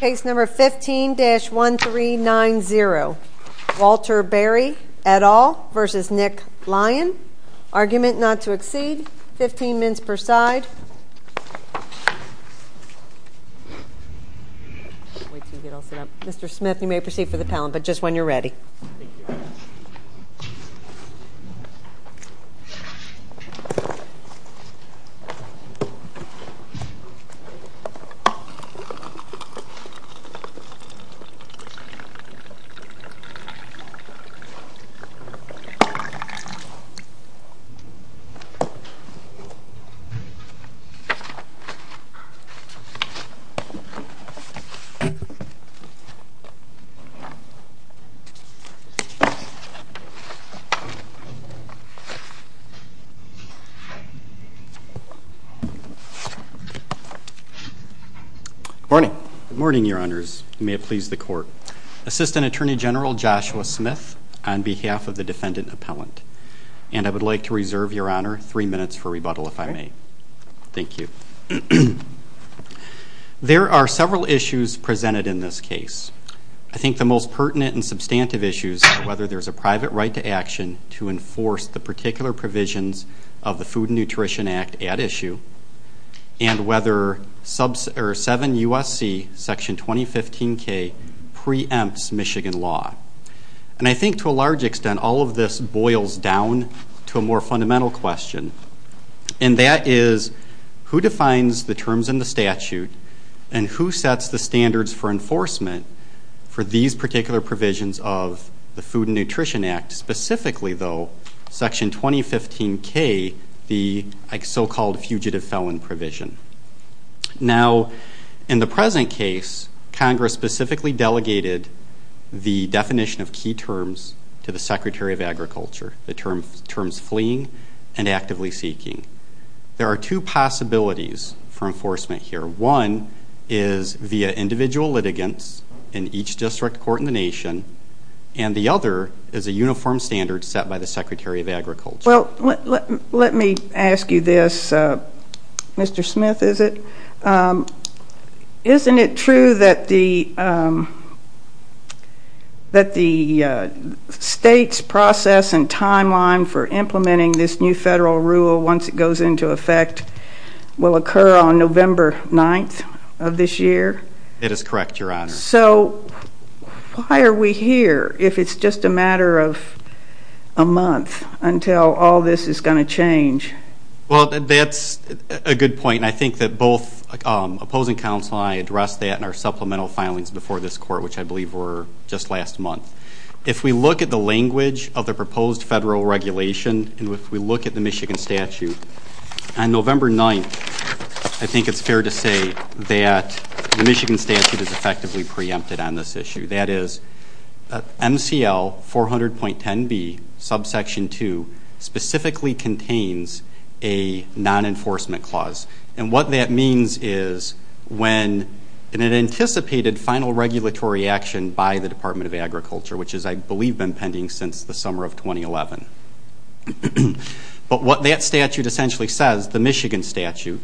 Case number 15-1390, Walter Barry et al. v. Nick Lyon. Argument not to exceed 15 minutes per side. Mr. Smith, you may proceed for the pallet, but just when you're ready. Thank you. Good morning. Good morning, your honors. May it please the court. Assistant Attorney General Joshua Smith, on behalf of the defendant appellant. And I would like to reserve your honor three minutes for rebuttal, if I may. Thank you. There are several issues presented in this case. I think the most pertinent and substantive issues are whether there's a private right to action to enforce the particular provisions of the Food and Nutrition Act at issue. And whether 7 U.S.C. Section 2015-K preempts Michigan law. And I think to a large extent, all of this boils down to a more fundamental question. And that is, who defines the terms in the statute? And who sets the standards for enforcement for these particular provisions of the Food and Nutrition Act? Specifically, though, Section 2015-K, the so-called fugitive felon provision. Now, in the present case, Congress specifically delegated the definition of key terms to the Secretary of Agriculture. The terms fleeing and actively seeking. There are two possibilities for enforcement here. One is via individual litigants in each district court in the nation. And the other is a uniform standard set by the Secretary of Agriculture. Well, let me ask you this. Mr. Smith, is it? Is it true that the state's process and timeline for implementing this new federal rule, once it goes into effect, will occur on November 9th of this year? That is correct, Your Honor. So why are we here if it's just a matter of a month until all this is going to change? Well, that's a good point. And I think that both opposing counsel and I addressed that in our supplemental filings before this court, which I believe were just last month. If we look at the language of the proposed federal regulation and if we look at the Michigan statute, on November 9th, I think it's fair to say that the Michigan statute is effectively preempted on this issue. That is, MCL 400.10b, subsection 2, specifically contains a non-enforcement clause. And what that means is when an anticipated final regulatory action by the Department of Agriculture, which has, I believe, been pending since the summer of 2011. But what that statute essentially says, the Michigan statute,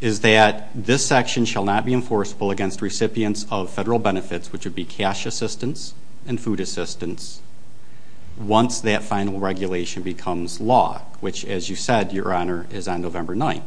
is that this section shall not be enforceable against recipients of federal benefits, which would be cash assistance and food assistance, once that final regulation becomes law, which, as you said, Your Honor, is on November 9th.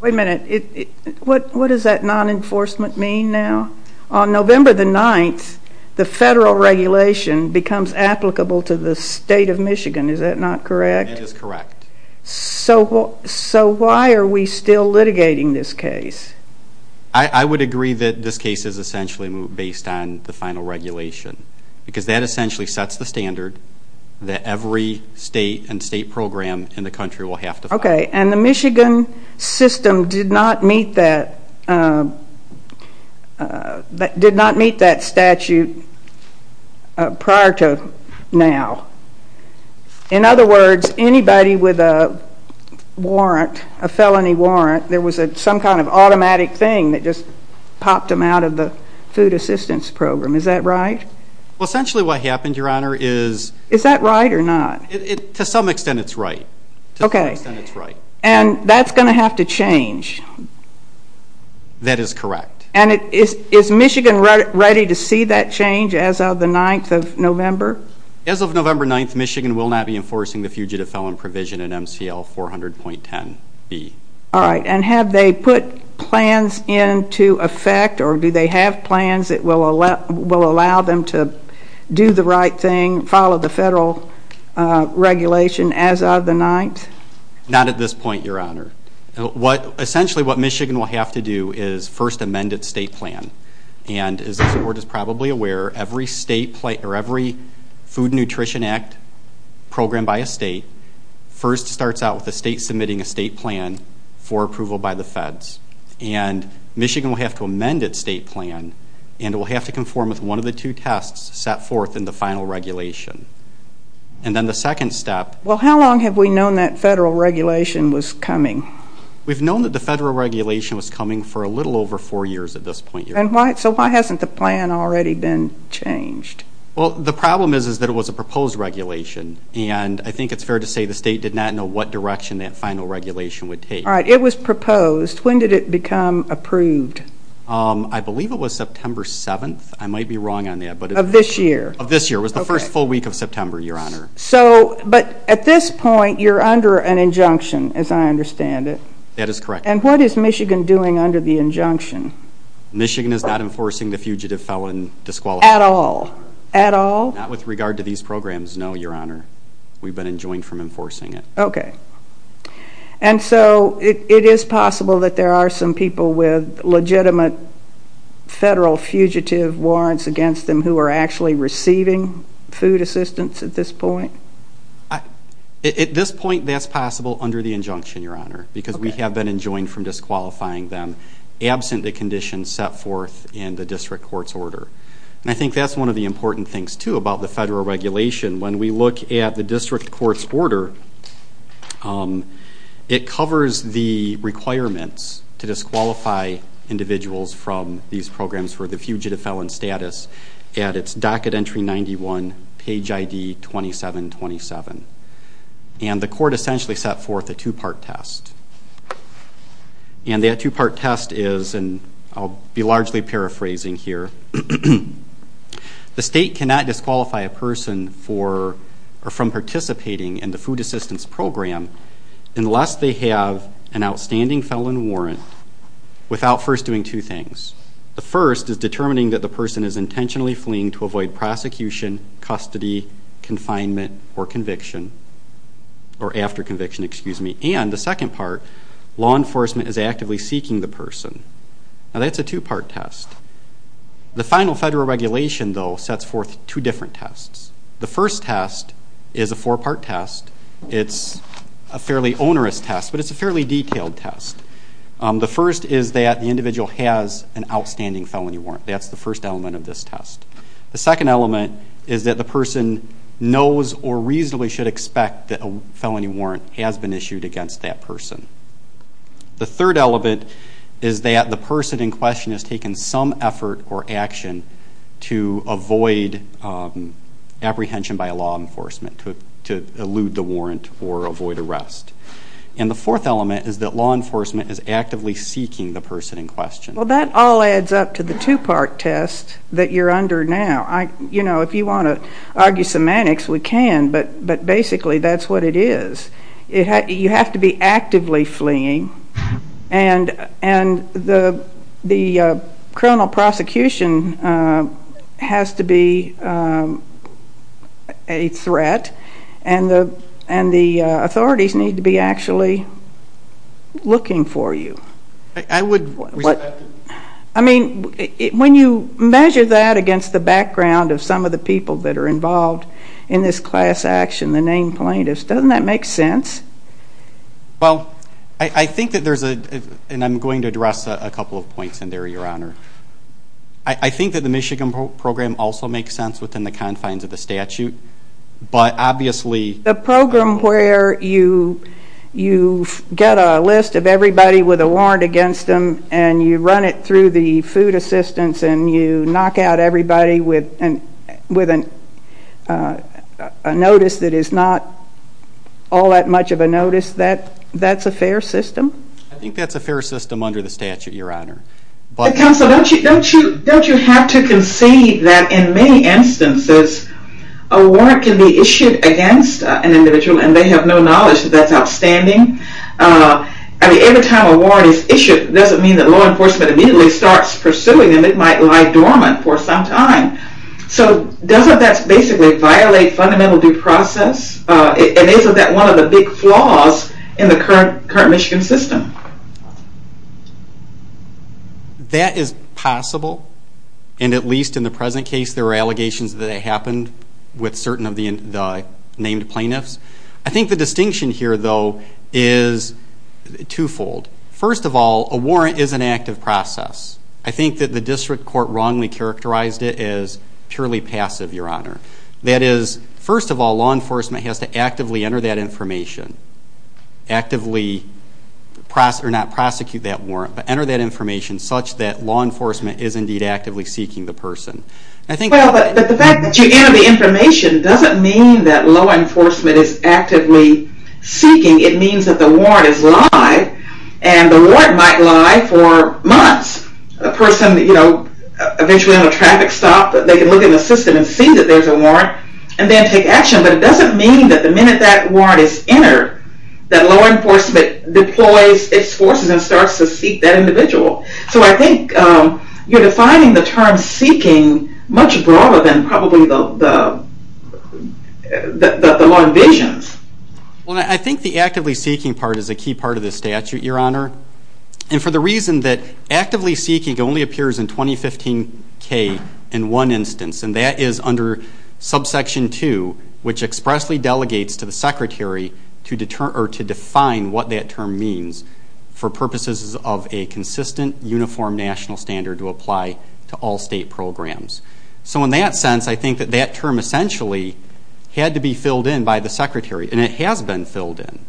Wait a minute. What does that non-enforcement mean now? On November 9th, the federal regulation becomes applicable to the state of Michigan. Is that not correct? It is correct. So why are we still litigating this case? I would agree that this case is essentially based on the final regulation because that essentially sets the standard that every state and state program in the country will have to follow. Okay, and the Michigan system did not meet that statute prior to now. In other words, anybody with a warrant, a felony warrant, there was some kind of automatic thing that just popped them out of the food assistance program. Is that right? Well, essentially what happened, Your Honor, is to some extent it's right. Okay, and that's going to have to change. That is correct. And is Michigan ready to see that change as of the 9th of November? As of November 9th, Michigan will not be enforcing the Fugitive Felon Provision in MCL 400.10B. All right, and have they put plans into effect, or do they have plans that will allow them to do the right thing, follow the federal regulation as of the 9th? Not at this point, Your Honor. Essentially what Michigan will have to do is first amend its state plan. And as the Board is probably aware, every food and nutrition act programmed by a state first starts out with the state submitting a state plan for approval by the feds. And Michigan will have to amend its state plan, and it will have to conform with one of the two tests set forth in the final regulation. And then the second step. Well, how long have we known that federal regulation was coming? We've known that the federal regulation was coming for a little over four years at this point, Your Honor. So why hasn't the plan already been changed? Well, the problem is that it was a proposed regulation, and I think it's fair to say the state did not know what direction that final regulation would take. All right, it was proposed. When did it become approved? I believe it was September 7th. I might be wrong on that. Of this year? Of this year. It was the first full week of September, Your Honor. But at this point, you're under an injunction, as I understand it. That is correct. And what is Michigan doing under the injunction? Michigan is not enforcing the fugitive felon disqualification. At all? At all? Not with regard to these programs, no, Your Honor. We've been enjoined from enforcing it. Okay. And so it is possible that there are some people with legitimate federal fugitive warrants against them who are actually receiving food assistance at this point? At this point, that's possible under the injunction, Your Honor, because we have been enjoined from disqualifying them, absent the conditions set forth in the district court's order. And I think that's one of the important things, too, about the federal regulation. When we look at the district court's order, it covers the requirements to disqualify individuals from these programs for the fugitive felon status at its docket entry 91, page ID 2727. And the court essentially set forth a two-part test. And that two-part test is, and I'll be largely paraphrasing here, the state cannot disqualify a person from participating in the food assistance program unless they have an outstanding felon warrant without first doing two things. The first is determining that the person is intentionally fleeing to avoid prosecution, custody, confinement, or conviction, or after conviction, excuse me. And the second part, law enforcement is actively seeking the person. Now, that's a two-part test. The final federal regulation, though, sets forth two different tests. The first test is a four-part test. It's a fairly onerous test, but it's a fairly detailed test. The first is that the individual has an outstanding felony warrant. That's the first element of this test. The second element is that the person knows or reasonably should expect that a felony warrant has been issued against that person. The third element is that the person in question has taken some effort or action to avoid apprehension by law enforcement, to elude the warrant or avoid arrest. And the fourth element is that law enforcement is actively seeking the person in question. Well, that all adds up to the two-part test that you're under now. You know, if you want to argue semantics, we can, but basically that's what it is. You have to be actively fleeing, and the criminal prosecution has to be a threat, and the authorities need to be actually looking for you. I would respect that. I mean, when you measure that against the background of some of the people that are involved in this class action, the named plaintiffs, doesn't that make sense? Well, I think that there's a, and I'm going to address a couple of points in there, Your Honor. I think that the Michigan program also makes sense within the confines of the statute, but obviously the program where you get a list of everybody with a warrant against them and you run it through the food assistance and you knock out everybody with a notice that is not all that much of a notice, that's a fair system? I think that's a fair system under the statute, Your Honor. Counsel, don't you have to concede that in many instances a warrant can be issued against an individual and they have no knowledge that that's outstanding? I mean, every time a warrant is issued, it doesn't mean that law enforcement immediately starts pursuing them. It might lie dormant for some time. So doesn't that basically violate fundamental due process? And isn't that one of the big flaws in the current Michigan system? That is possible, and at least in the present case there are allegations that it happened with certain of the named plaintiffs. I think the distinction here, though, is twofold. First of all, a warrant is an active process. I think that the district court wrongly characterized it as purely passive, Your Honor. That is, first of all, law enforcement has to actively enter that information, actively not prosecute that warrant, but enter that information such that law enforcement is indeed actively seeking the person. Well, but the fact that you enter the information doesn't mean that law enforcement is actively seeking. It means that the warrant is live, and the warrant might lie for months. A person, you know, eventually on a traffic stop, they can look at the system and see that there's a warrant, and then take action. But it doesn't mean that the minute that warrant is entered, that law enforcement deploys its forces and starts to seek that individual. So I think you're defining the term seeking much broader than probably the law envisions. Well, I think the actively seeking part is a key part of this statute, Your Honor. And for the reason that actively seeking only appears in 2015K in one instance, and that is under subsection 2, which expressly delegates to the secretary to define what that term means for purposes of a consistent, uniform national standard to apply to all state programs. So in that sense, I think that that term essentially had to be filled in by the secretary, and it has been filled in.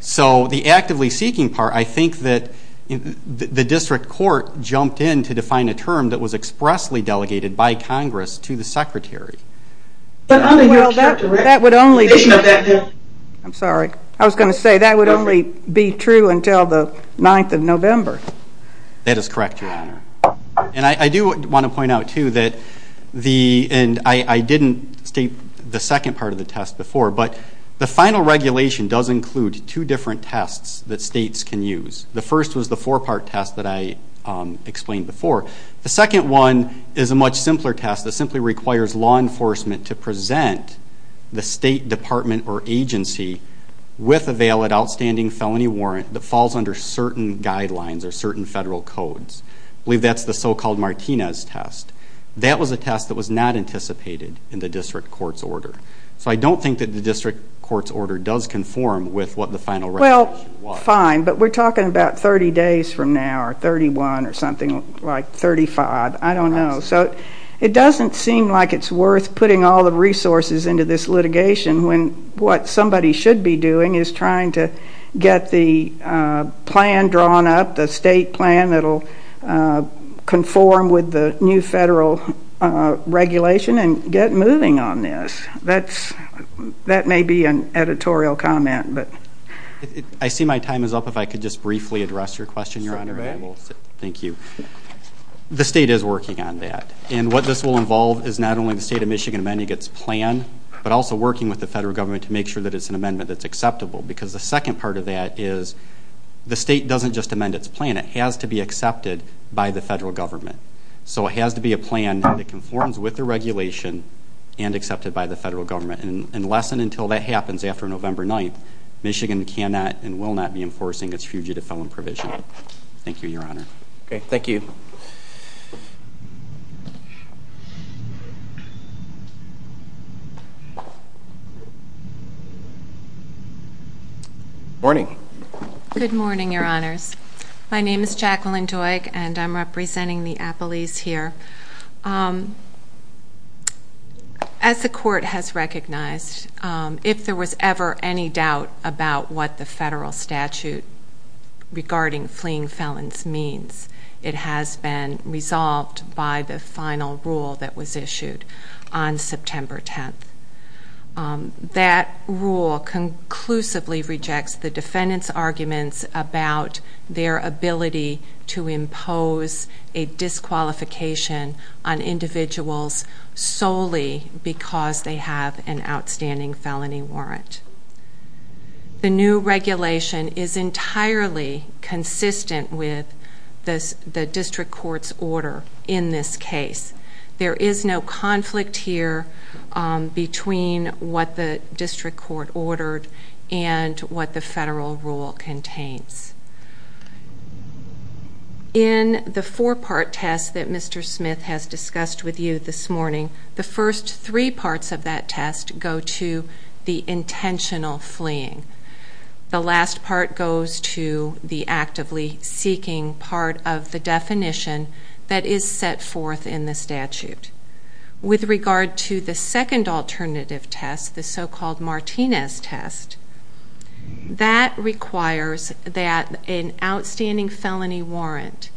So the actively seeking part, I think that the district court jumped in to define a term that was expressly delegated by Congress to the secretary. But, Your Honor, that would only be true until the 9th of November. That is correct, Your Honor. And I do want to point out, too, that I didn't state the second part of the test before, but the final regulation does include two different tests that states can use. The first was the four-part test that I explained before. The second one is a much simpler test that simply requires law enforcement to present the state department or agency with a valid outstanding felony warrant that falls under certain guidelines or certain federal codes. I believe that's the so-called Martinez test. That was a test that was not anticipated in the district court's order. So I don't think that the district court's order does conform with what the final regulation was. That's fine, but we're talking about 30 days from now or 31 or something like 35. I don't know. So it doesn't seem like it's worth putting all the resources into this litigation when what somebody should be doing is trying to get the plan drawn up, the state plan that will conform with the new federal regulation and get moving on this. That may be an editorial comment. I see my time is up. If I could just briefly address your question, Your Honor. Thank you. The state is working on that. And what this will involve is not only the state of Michigan amending its plan, but also working with the federal government to make sure that it's an amendment that's acceptable because the second part of that is the state doesn't just amend its plan. It has to be accepted by the federal government. So it has to be a plan that conforms with the regulation and accepted by the federal government. And unless and until that happens after November 9th, Michigan cannot and will not be enforcing its fugitive felon provision. Thank you, Your Honor. Okay. Thank you. Morning. Good morning, Your Honors. My name is Jacqueline Doig, and I'm representing the appellees here. As the court has recognized, if there was ever any doubt about what the federal statute regarding fleeing felons means, it has been resolved by the final rule that was issued on September 10th. That rule conclusively rejects the defendant's arguments about their ability to impose a disqualification on individuals solely because they have an outstanding felony warrant. The new regulation is entirely consistent with the district court's order in this case. There is no conflict here between what the district court ordered and what the federal rule contains. In the four-part test that Mr. Smith has discussed with you this morning, the first three parts of that test go to the intentional fleeing. The last part goes to the actively seeking part of the definition that is set forth in the statute. With regard to the second alternative test, the so-called Martinez test, that requires that an outstanding felony warrant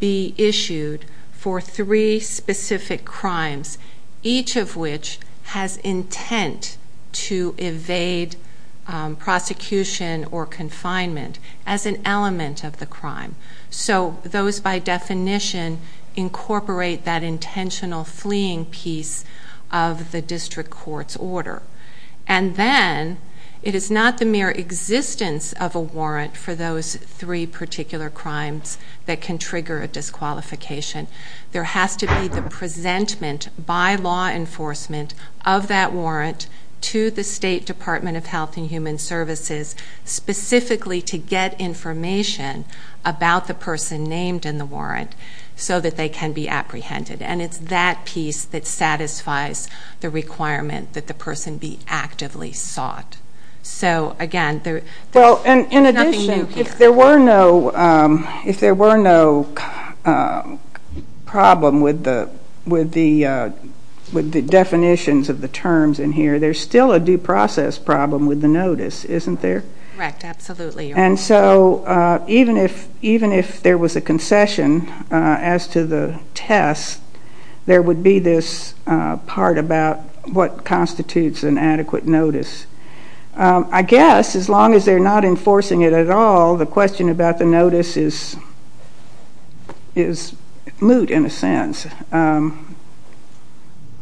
be issued for three specific crimes, each of which has intent to evade prosecution or confinement as an element of the crime. Those, by definition, incorporate that intentional fleeing piece of the district court's order. Then, it is not the mere existence of a warrant for those three particular crimes that can trigger a disqualification. There has to be the presentment by law enforcement of that warrant to the State Department of Health and Human Services, specifically to get information about the person named in the warrant so that they can be apprehended. It is that piece that satisfies the requirement that the person be actively sought. Again, there is nothing new here. In addition, if there were no problem with the definitions of the terms in here, there is still a due process problem with the notice, isn't there? Correct. Absolutely. Even if there was a concession as to the test, there would be this part about what constitutes an adequate notice. I guess, as long as they're not enforcing it at all, the question about the notice is moot, in a sense.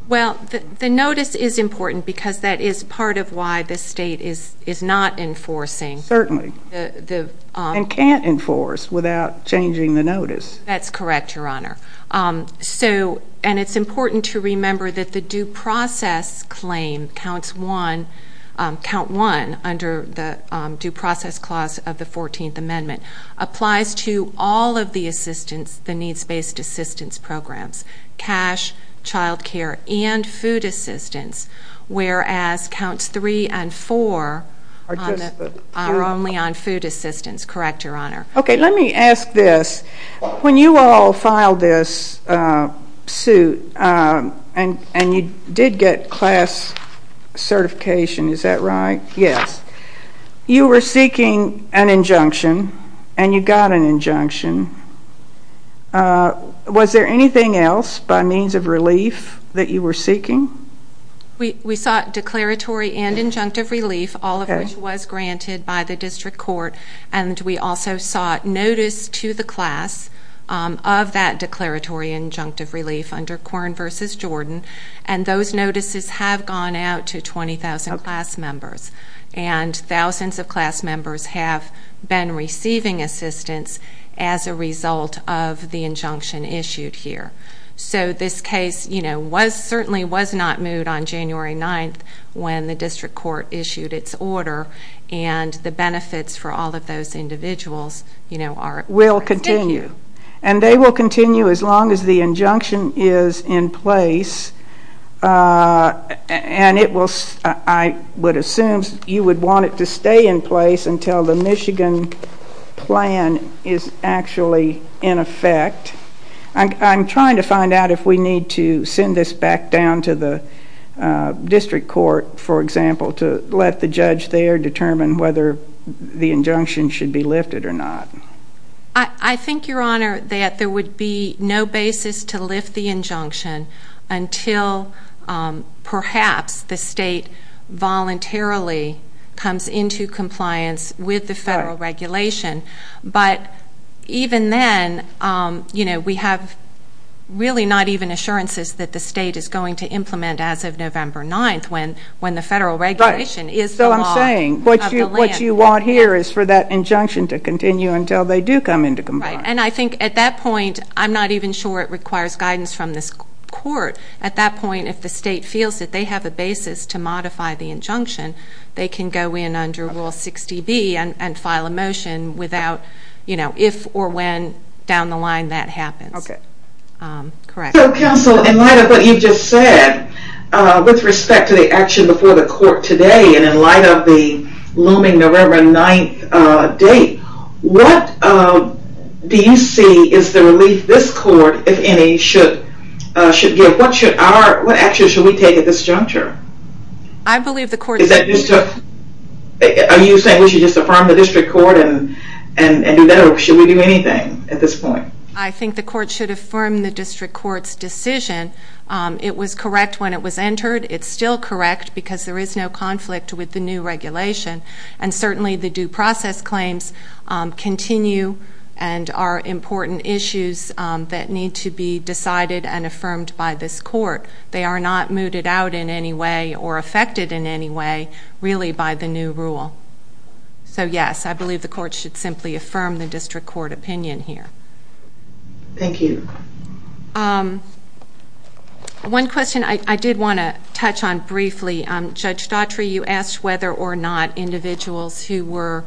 Well, the notice is important because that is part of why the State is not enforcing. Certainly. And can't enforce without changing the notice. That's correct, Your Honor. And it's important to remember that the due process claim, Count 1 under the Due Process Clause of the 14th Amendment, applies to all of the assistance, the needs-based assistance programs, cash, child care, and food assistance, whereas Counts 3 and 4 are only on food assistance. Correct, Your Honor. Okay. Let me ask this. When you all filed this suit and you did get class certification, is that right? Yes. You were seeking an injunction and you got an injunction. Was there anything else by means of relief that you were seeking? We sought declaratory and injunctive relief, all of which was granted by the District Court, and we also sought notice to the class of that declaratory and injunctive relief under Corn v. Jordan, and those notices have gone out to 20,000 class members, and thousands of class members have been receiving assistance as a result of the injunction issued here. So this case, you know, certainly was not moot on January 9th when the District Court issued its order, and the benefits for all of those individuals, you know, are at risk. Will continue, and they will continue as long as the injunction is in place, and I would assume you would want it to stay in place until the Michigan plan is actually in effect. I'm trying to find out if we need to send this back down to the District Court, for example, to let the judge there determine whether the injunction should be lifted or not. I think, Your Honor, that there would be no basis to lift the injunction until perhaps the state voluntarily comes into compliance with the federal regulation, but even then, you know, we have really not even assurances that the state is going to implement as of November 9th when the federal regulation is the law of the land. So I'm saying what you want here is for that injunction to continue until they do come into compliance. And I think at that point, I'm not even sure it requires guidance from this court. At that point, if the state feels that they have a basis to modify the injunction, they can go in under Rule 60B and file a motion without, you know, if or when down the line that happens. So, counsel, in light of what you've just said, with respect to the action before the court today and in light of the looming November 9th date, what do you see is the relief this court, if any, should give? What action should we take at this juncture? I believe the court should do nothing. Are you saying we should just affirm the District Court and do that, or should we do anything at this point? I think the court should affirm the District Court's decision. It was correct when it was entered. It's still correct because there is no conflict with the new regulation. And certainly the due process claims continue and are important issues that need to be decided and affirmed by this court. They are not mooted out in any way or affected in any way, really, by the new rule. So, yes, I believe the court should simply affirm the District Court opinion here. Thank you. One question I did want to touch on briefly. Judge Daughtry, you asked whether or not individuals who were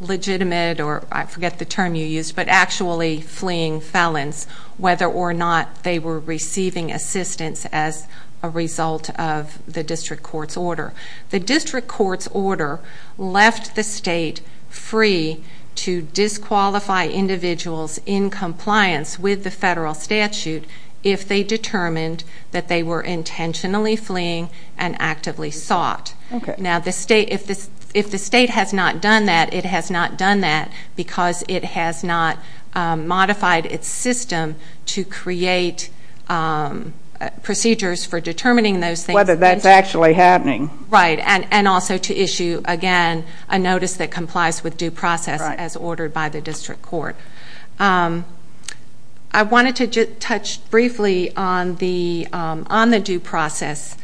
legitimate, or I forget the term you used, but actually fleeing felons, whether or not they were receiving assistance as a result of the District Court's order. The District Court's order left the state free to disqualify individuals in compliance with the federal statute if they determined that they were intentionally fleeing and actively sought. Now, if the state has not done that, it has not done that because it has not modified its system to create procedures for determining those things. Whether that's actually happening. Right, and also to issue, again, a notice that complies with due process as ordered by the District Court. I wanted to just touch briefly on the due process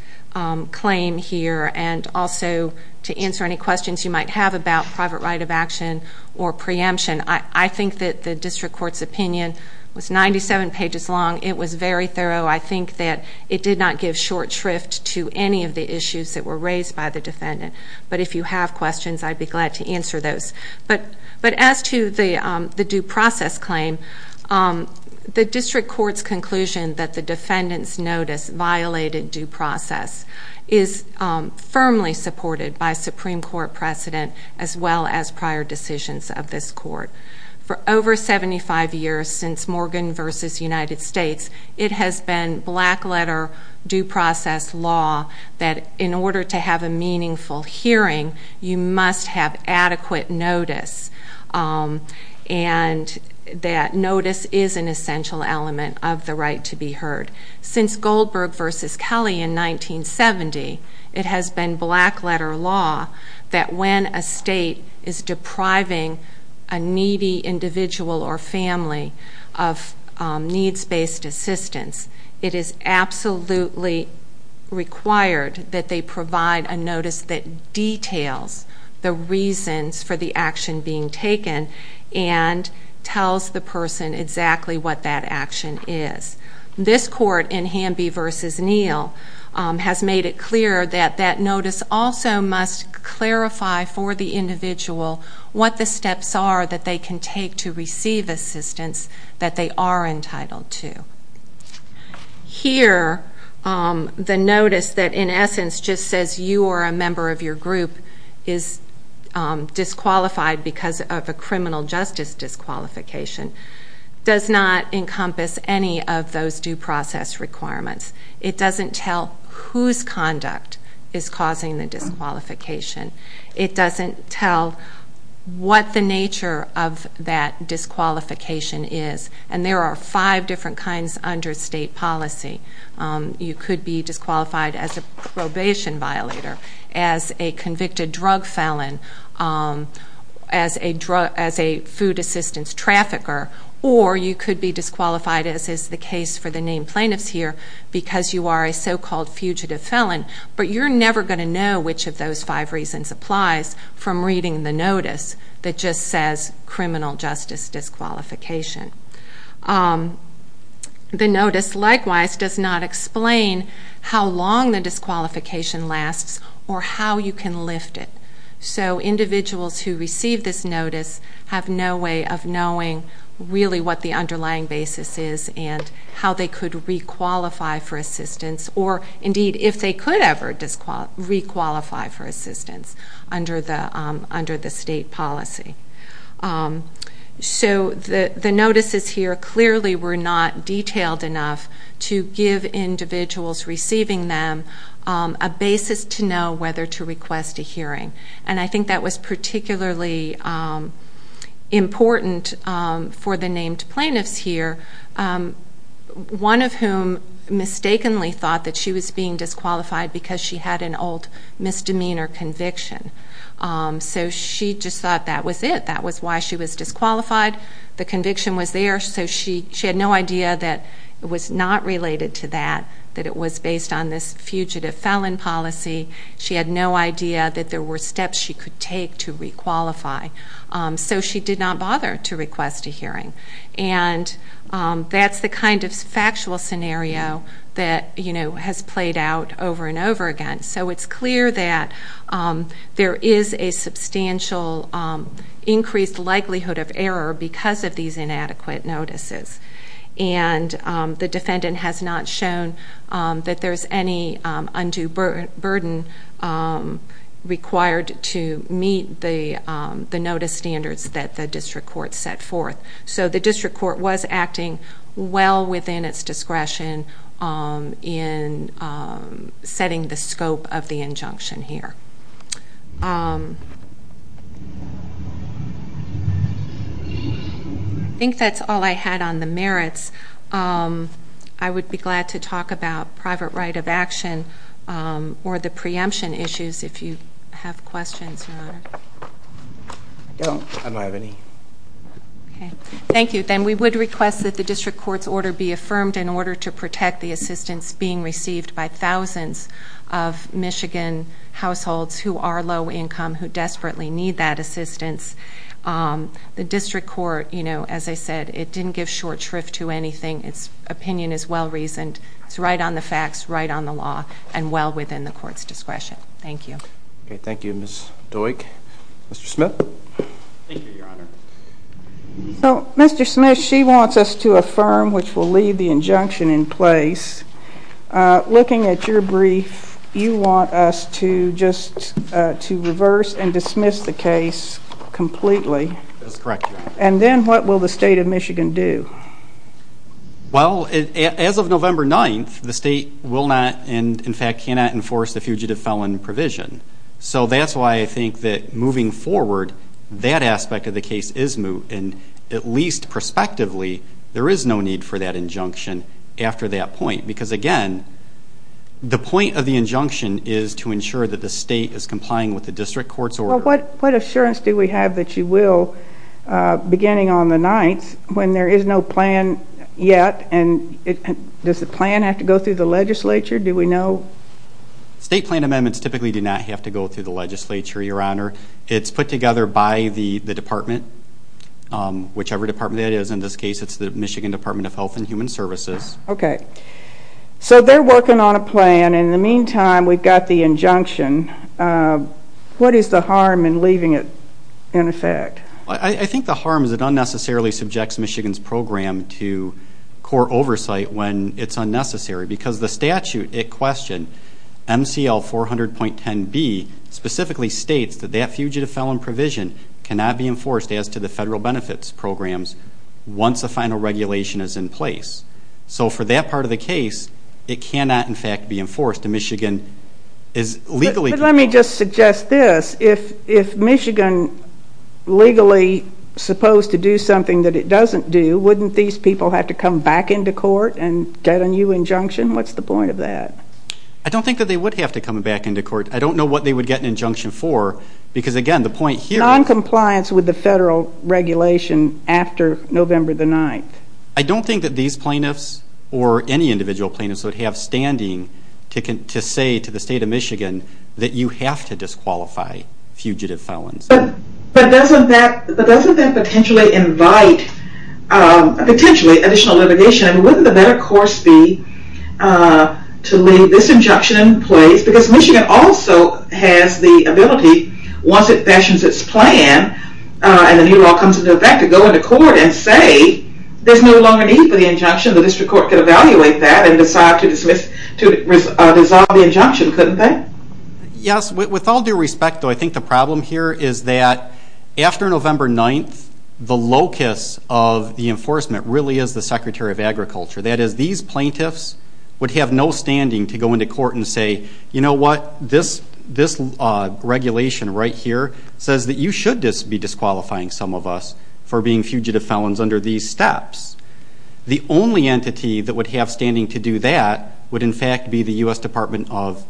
claim here and also to answer any questions you might have about private right of action or preemption. I think that the District Court's opinion was 97 pages long. It was very thorough. I think that it did not give short shrift to any of the issues that were raised by the defendant. But if you have questions, I'd be glad to answer those. But as to the due process claim, the District Court's conclusion that the defendant's notice violated due process is firmly supported by Supreme Court precedent as well as prior decisions of this court. For over 75 years since Morgan v. United States, it has been black letter due process law that in order to have a meaningful hearing, you must have adequate notice. And that notice is an essential element of the right to be heard. Since Goldberg v. Kelly in 1970, it has been black letter law that when a state is depriving a needy individual or family of needs-based assistance, it is absolutely required that they provide a notice that details the reasons for the action being taken and tells the person exactly what that action is. This court in Hamby v. Neal has made it clear that that notice also must clarify for the individual what the steps are that they can take to receive assistance that they are entitled to. Here, the notice that in essence just says you or a member of your group is disqualified because of a criminal justice disqualification does not encompass any of those due process requirements. It doesn't tell whose conduct is causing the disqualification. It doesn't tell what the nature of that disqualification is. And there are five different kinds under state policy. You could be disqualified as a probation violator, as a convicted drug felon, as a food assistance trafficker, or you could be disqualified, as is the case for the named plaintiffs here, because you are a so-called fugitive felon. But you're never going to know which of those five reasons applies from reading the notice that just says criminal justice disqualification. The notice, likewise, does not explain how long the disqualification lasts or how you can lift it. So individuals who receive this notice have no way of knowing really what the underlying basis is and how they could requalify for assistance or, indeed, if they could ever requalify for assistance under the state policy. So the notices here clearly were not detailed enough to give individuals receiving them a basis to know whether to request a hearing. And I think that was particularly important for the named plaintiffs here, one of whom mistakenly thought that she was being disqualified because she had an old misdemeanor conviction. So she just thought that was it. That was why she was disqualified. The conviction was there, so she had no idea that it was not related to that, that it was based on this fugitive felon policy. She had no idea that there were steps she could take to requalify. So she did not bother to request a hearing. And that's the kind of factual scenario that has played out over and over again. So it's clear that there is a substantial increased likelihood of error because of these inadequate notices. And the defendant has not shown that there's any undue burden required to meet the notice standards that the district court set forth. So the district court was acting well within its discretion in setting the scope of the injunction here. I think that's all I had on the merits. I would be glad to talk about private right of action or the preemption issues if you have questions, Your Honor. I don't. I don't have any. Thank you. Then we would request that the district court's order be affirmed in order to protect the assistance being received by thousands of Michigan households who are low income, who desperately need that assistance. The district court, as I said, it didn't give short shrift to anything. Its opinion is well reasoned. It's right on the facts, right on the law, and well within the court's discretion. Thank you. Thank you, Ms. Doik. Mr. Smith? Thank you, Your Honor. So, Mr. Smith, she wants us to affirm, which will leave the injunction in place. Looking at your brief, you want us to just to reverse and dismiss the case completely. That's correct, Your Honor. And then what will the state of Michigan do? Well, as of November 9th, the state will not and, in fact, cannot enforce the fugitive felon provision. So that's why I think that moving forward, that aspect of the case is moot. And at least prospectively, there is no need for that injunction after that point. Because, again, the point of the injunction is to ensure that the state is complying with the district court's order. Well, what assurance do we have that you will, beginning on the 9th, when there is no plan yet? And does the plan have to go through the legislature? Do we know? State plan amendments typically do not have to go through the legislature, Your Honor. It's put together by the department, whichever department that is. In this case, it's the Michigan Department of Health and Human Services. Okay. So they're working on a plan. In the meantime, we've got the injunction. What is the harm in leaving it in effect? I think the harm is it unnecessarily subjects Michigan's program to court oversight when it's unnecessary. Because the statute at question, MCL 400.10b, specifically states that that fugitive felon provision cannot be enforced as to the federal benefits programs once the final regulation is in place. So for that part of the case, it cannot, in fact, be enforced. But let me just suggest this. If Michigan legally supposed to do something that it doesn't do, wouldn't these people have to come back into court and get a new injunction? What's the point of that? I don't think that they would have to come back into court. I don't know what they would get an injunction for. Because, again, the point here ñ Noncompliance with the federal regulation after November the 9th. I don't think that these plaintiffs or any individual plaintiffs would have standing to say to the state of Michigan that you have to disqualify fugitive felons. But doesn't that potentially invite potentially additional litigation? Wouldn't the better course be to leave this injunction in place? Because Michigan also has the ability, once it fashions its plan and the new law comes into effect, to go into court and say there's no longer need for the injunction. The district court could evaluate that and decide to dissolve the injunction, couldn't they? Yes. With all due respect, though, I think the problem here is that after November 9th, the locus of the enforcement really is the Secretary of Agriculture. That is, these plaintiffs would have no standing to go into court and say, you know what? This regulation right here says that you should be disqualifying some of us for being fugitive felons under these steps. The only entity that would have standing to do that would, in fact, be the U.S. Department of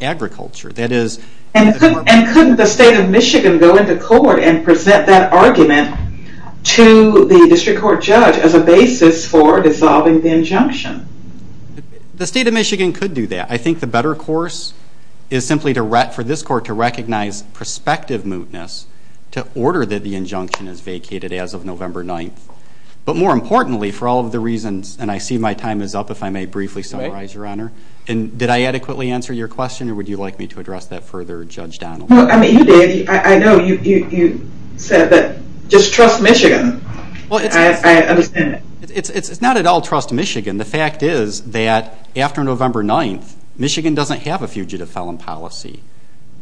Agriculture. And couldn't the state of Michigan go into court and present that argument to the district court judge as a basis for dissolving the injunction? The state of Michigan could do that. I think the better course is simply for this court to recognize prospective mootness to order that the injunction is vacated as of November 9th. But more importantly, for all of the reasons, and I see my time is up, if I may briefly summarize, Your Honor. Did I adequately answer your question, or would you like me to address that further, Judge Donaldson? No, I mean, you did. I know you said that just trust Michigan. I understand that. It's not at all trust Michigan. The fact is that after November 9th, Michigan doesn't have a fugitive felon policy.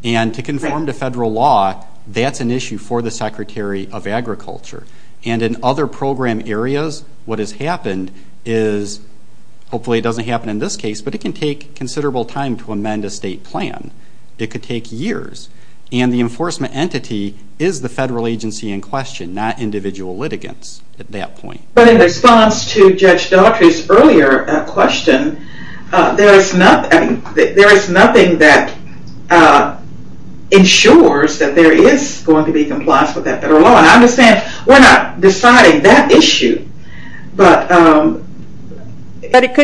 And to conform to federal law, that's an issue for the Secretary of Agriculture. And in other program areas, what has happened is, hopefully it doesn't happen in this case, but it can take considerable time to amend a state plan. It could take years. And the enforcement entity is the federal agency in question, not individual litigants at that point. But in response to Judge Daughtry's earlier question, there is nothing that ensures that there is going to be compliance with that federal law. And I understand we're not deciding that issue, but that's the reality. But it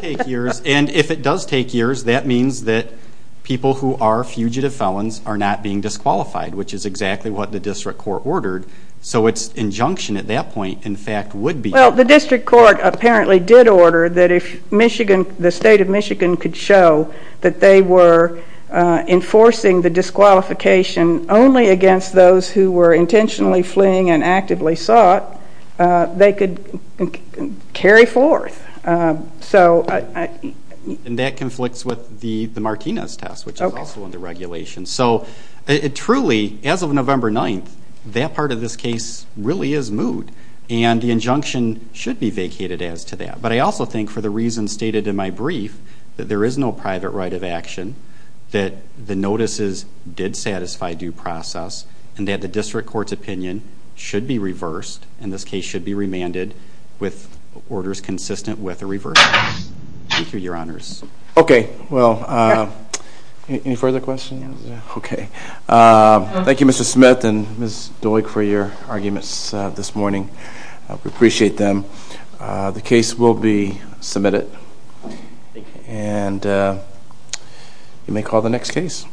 could take years. And if it does take years, that means that people who are fugitive felons are not being disqualified, which is exactly what the district court ordered. So its injunction at that point, in fact, would be. Well, the district court apparently did order that if the state of Michigan could show that they were enforcing the disqualification only against those who were intentionally fleeing and actively sought, they could carry forth. And that conflicts with the Martinez test, which is also under regulation. So truly, as of November 9th, that part of this case really is moot. And the injunction should be vacated as to that. But I also think, for the reasons stated in my brief, that there is no private right of action, that the notices did satisfy due process, and that the district court's opinion should be reversed, and this case should be remanded with orders consistent with the reversals. Thank you, Your Honors. Okay. Well, any further questions? Okay. Thank you, Mr. Smith and Ms. Doig, for your arguments this morning. We appreciate them. The case will be submitted. And you may call the next case.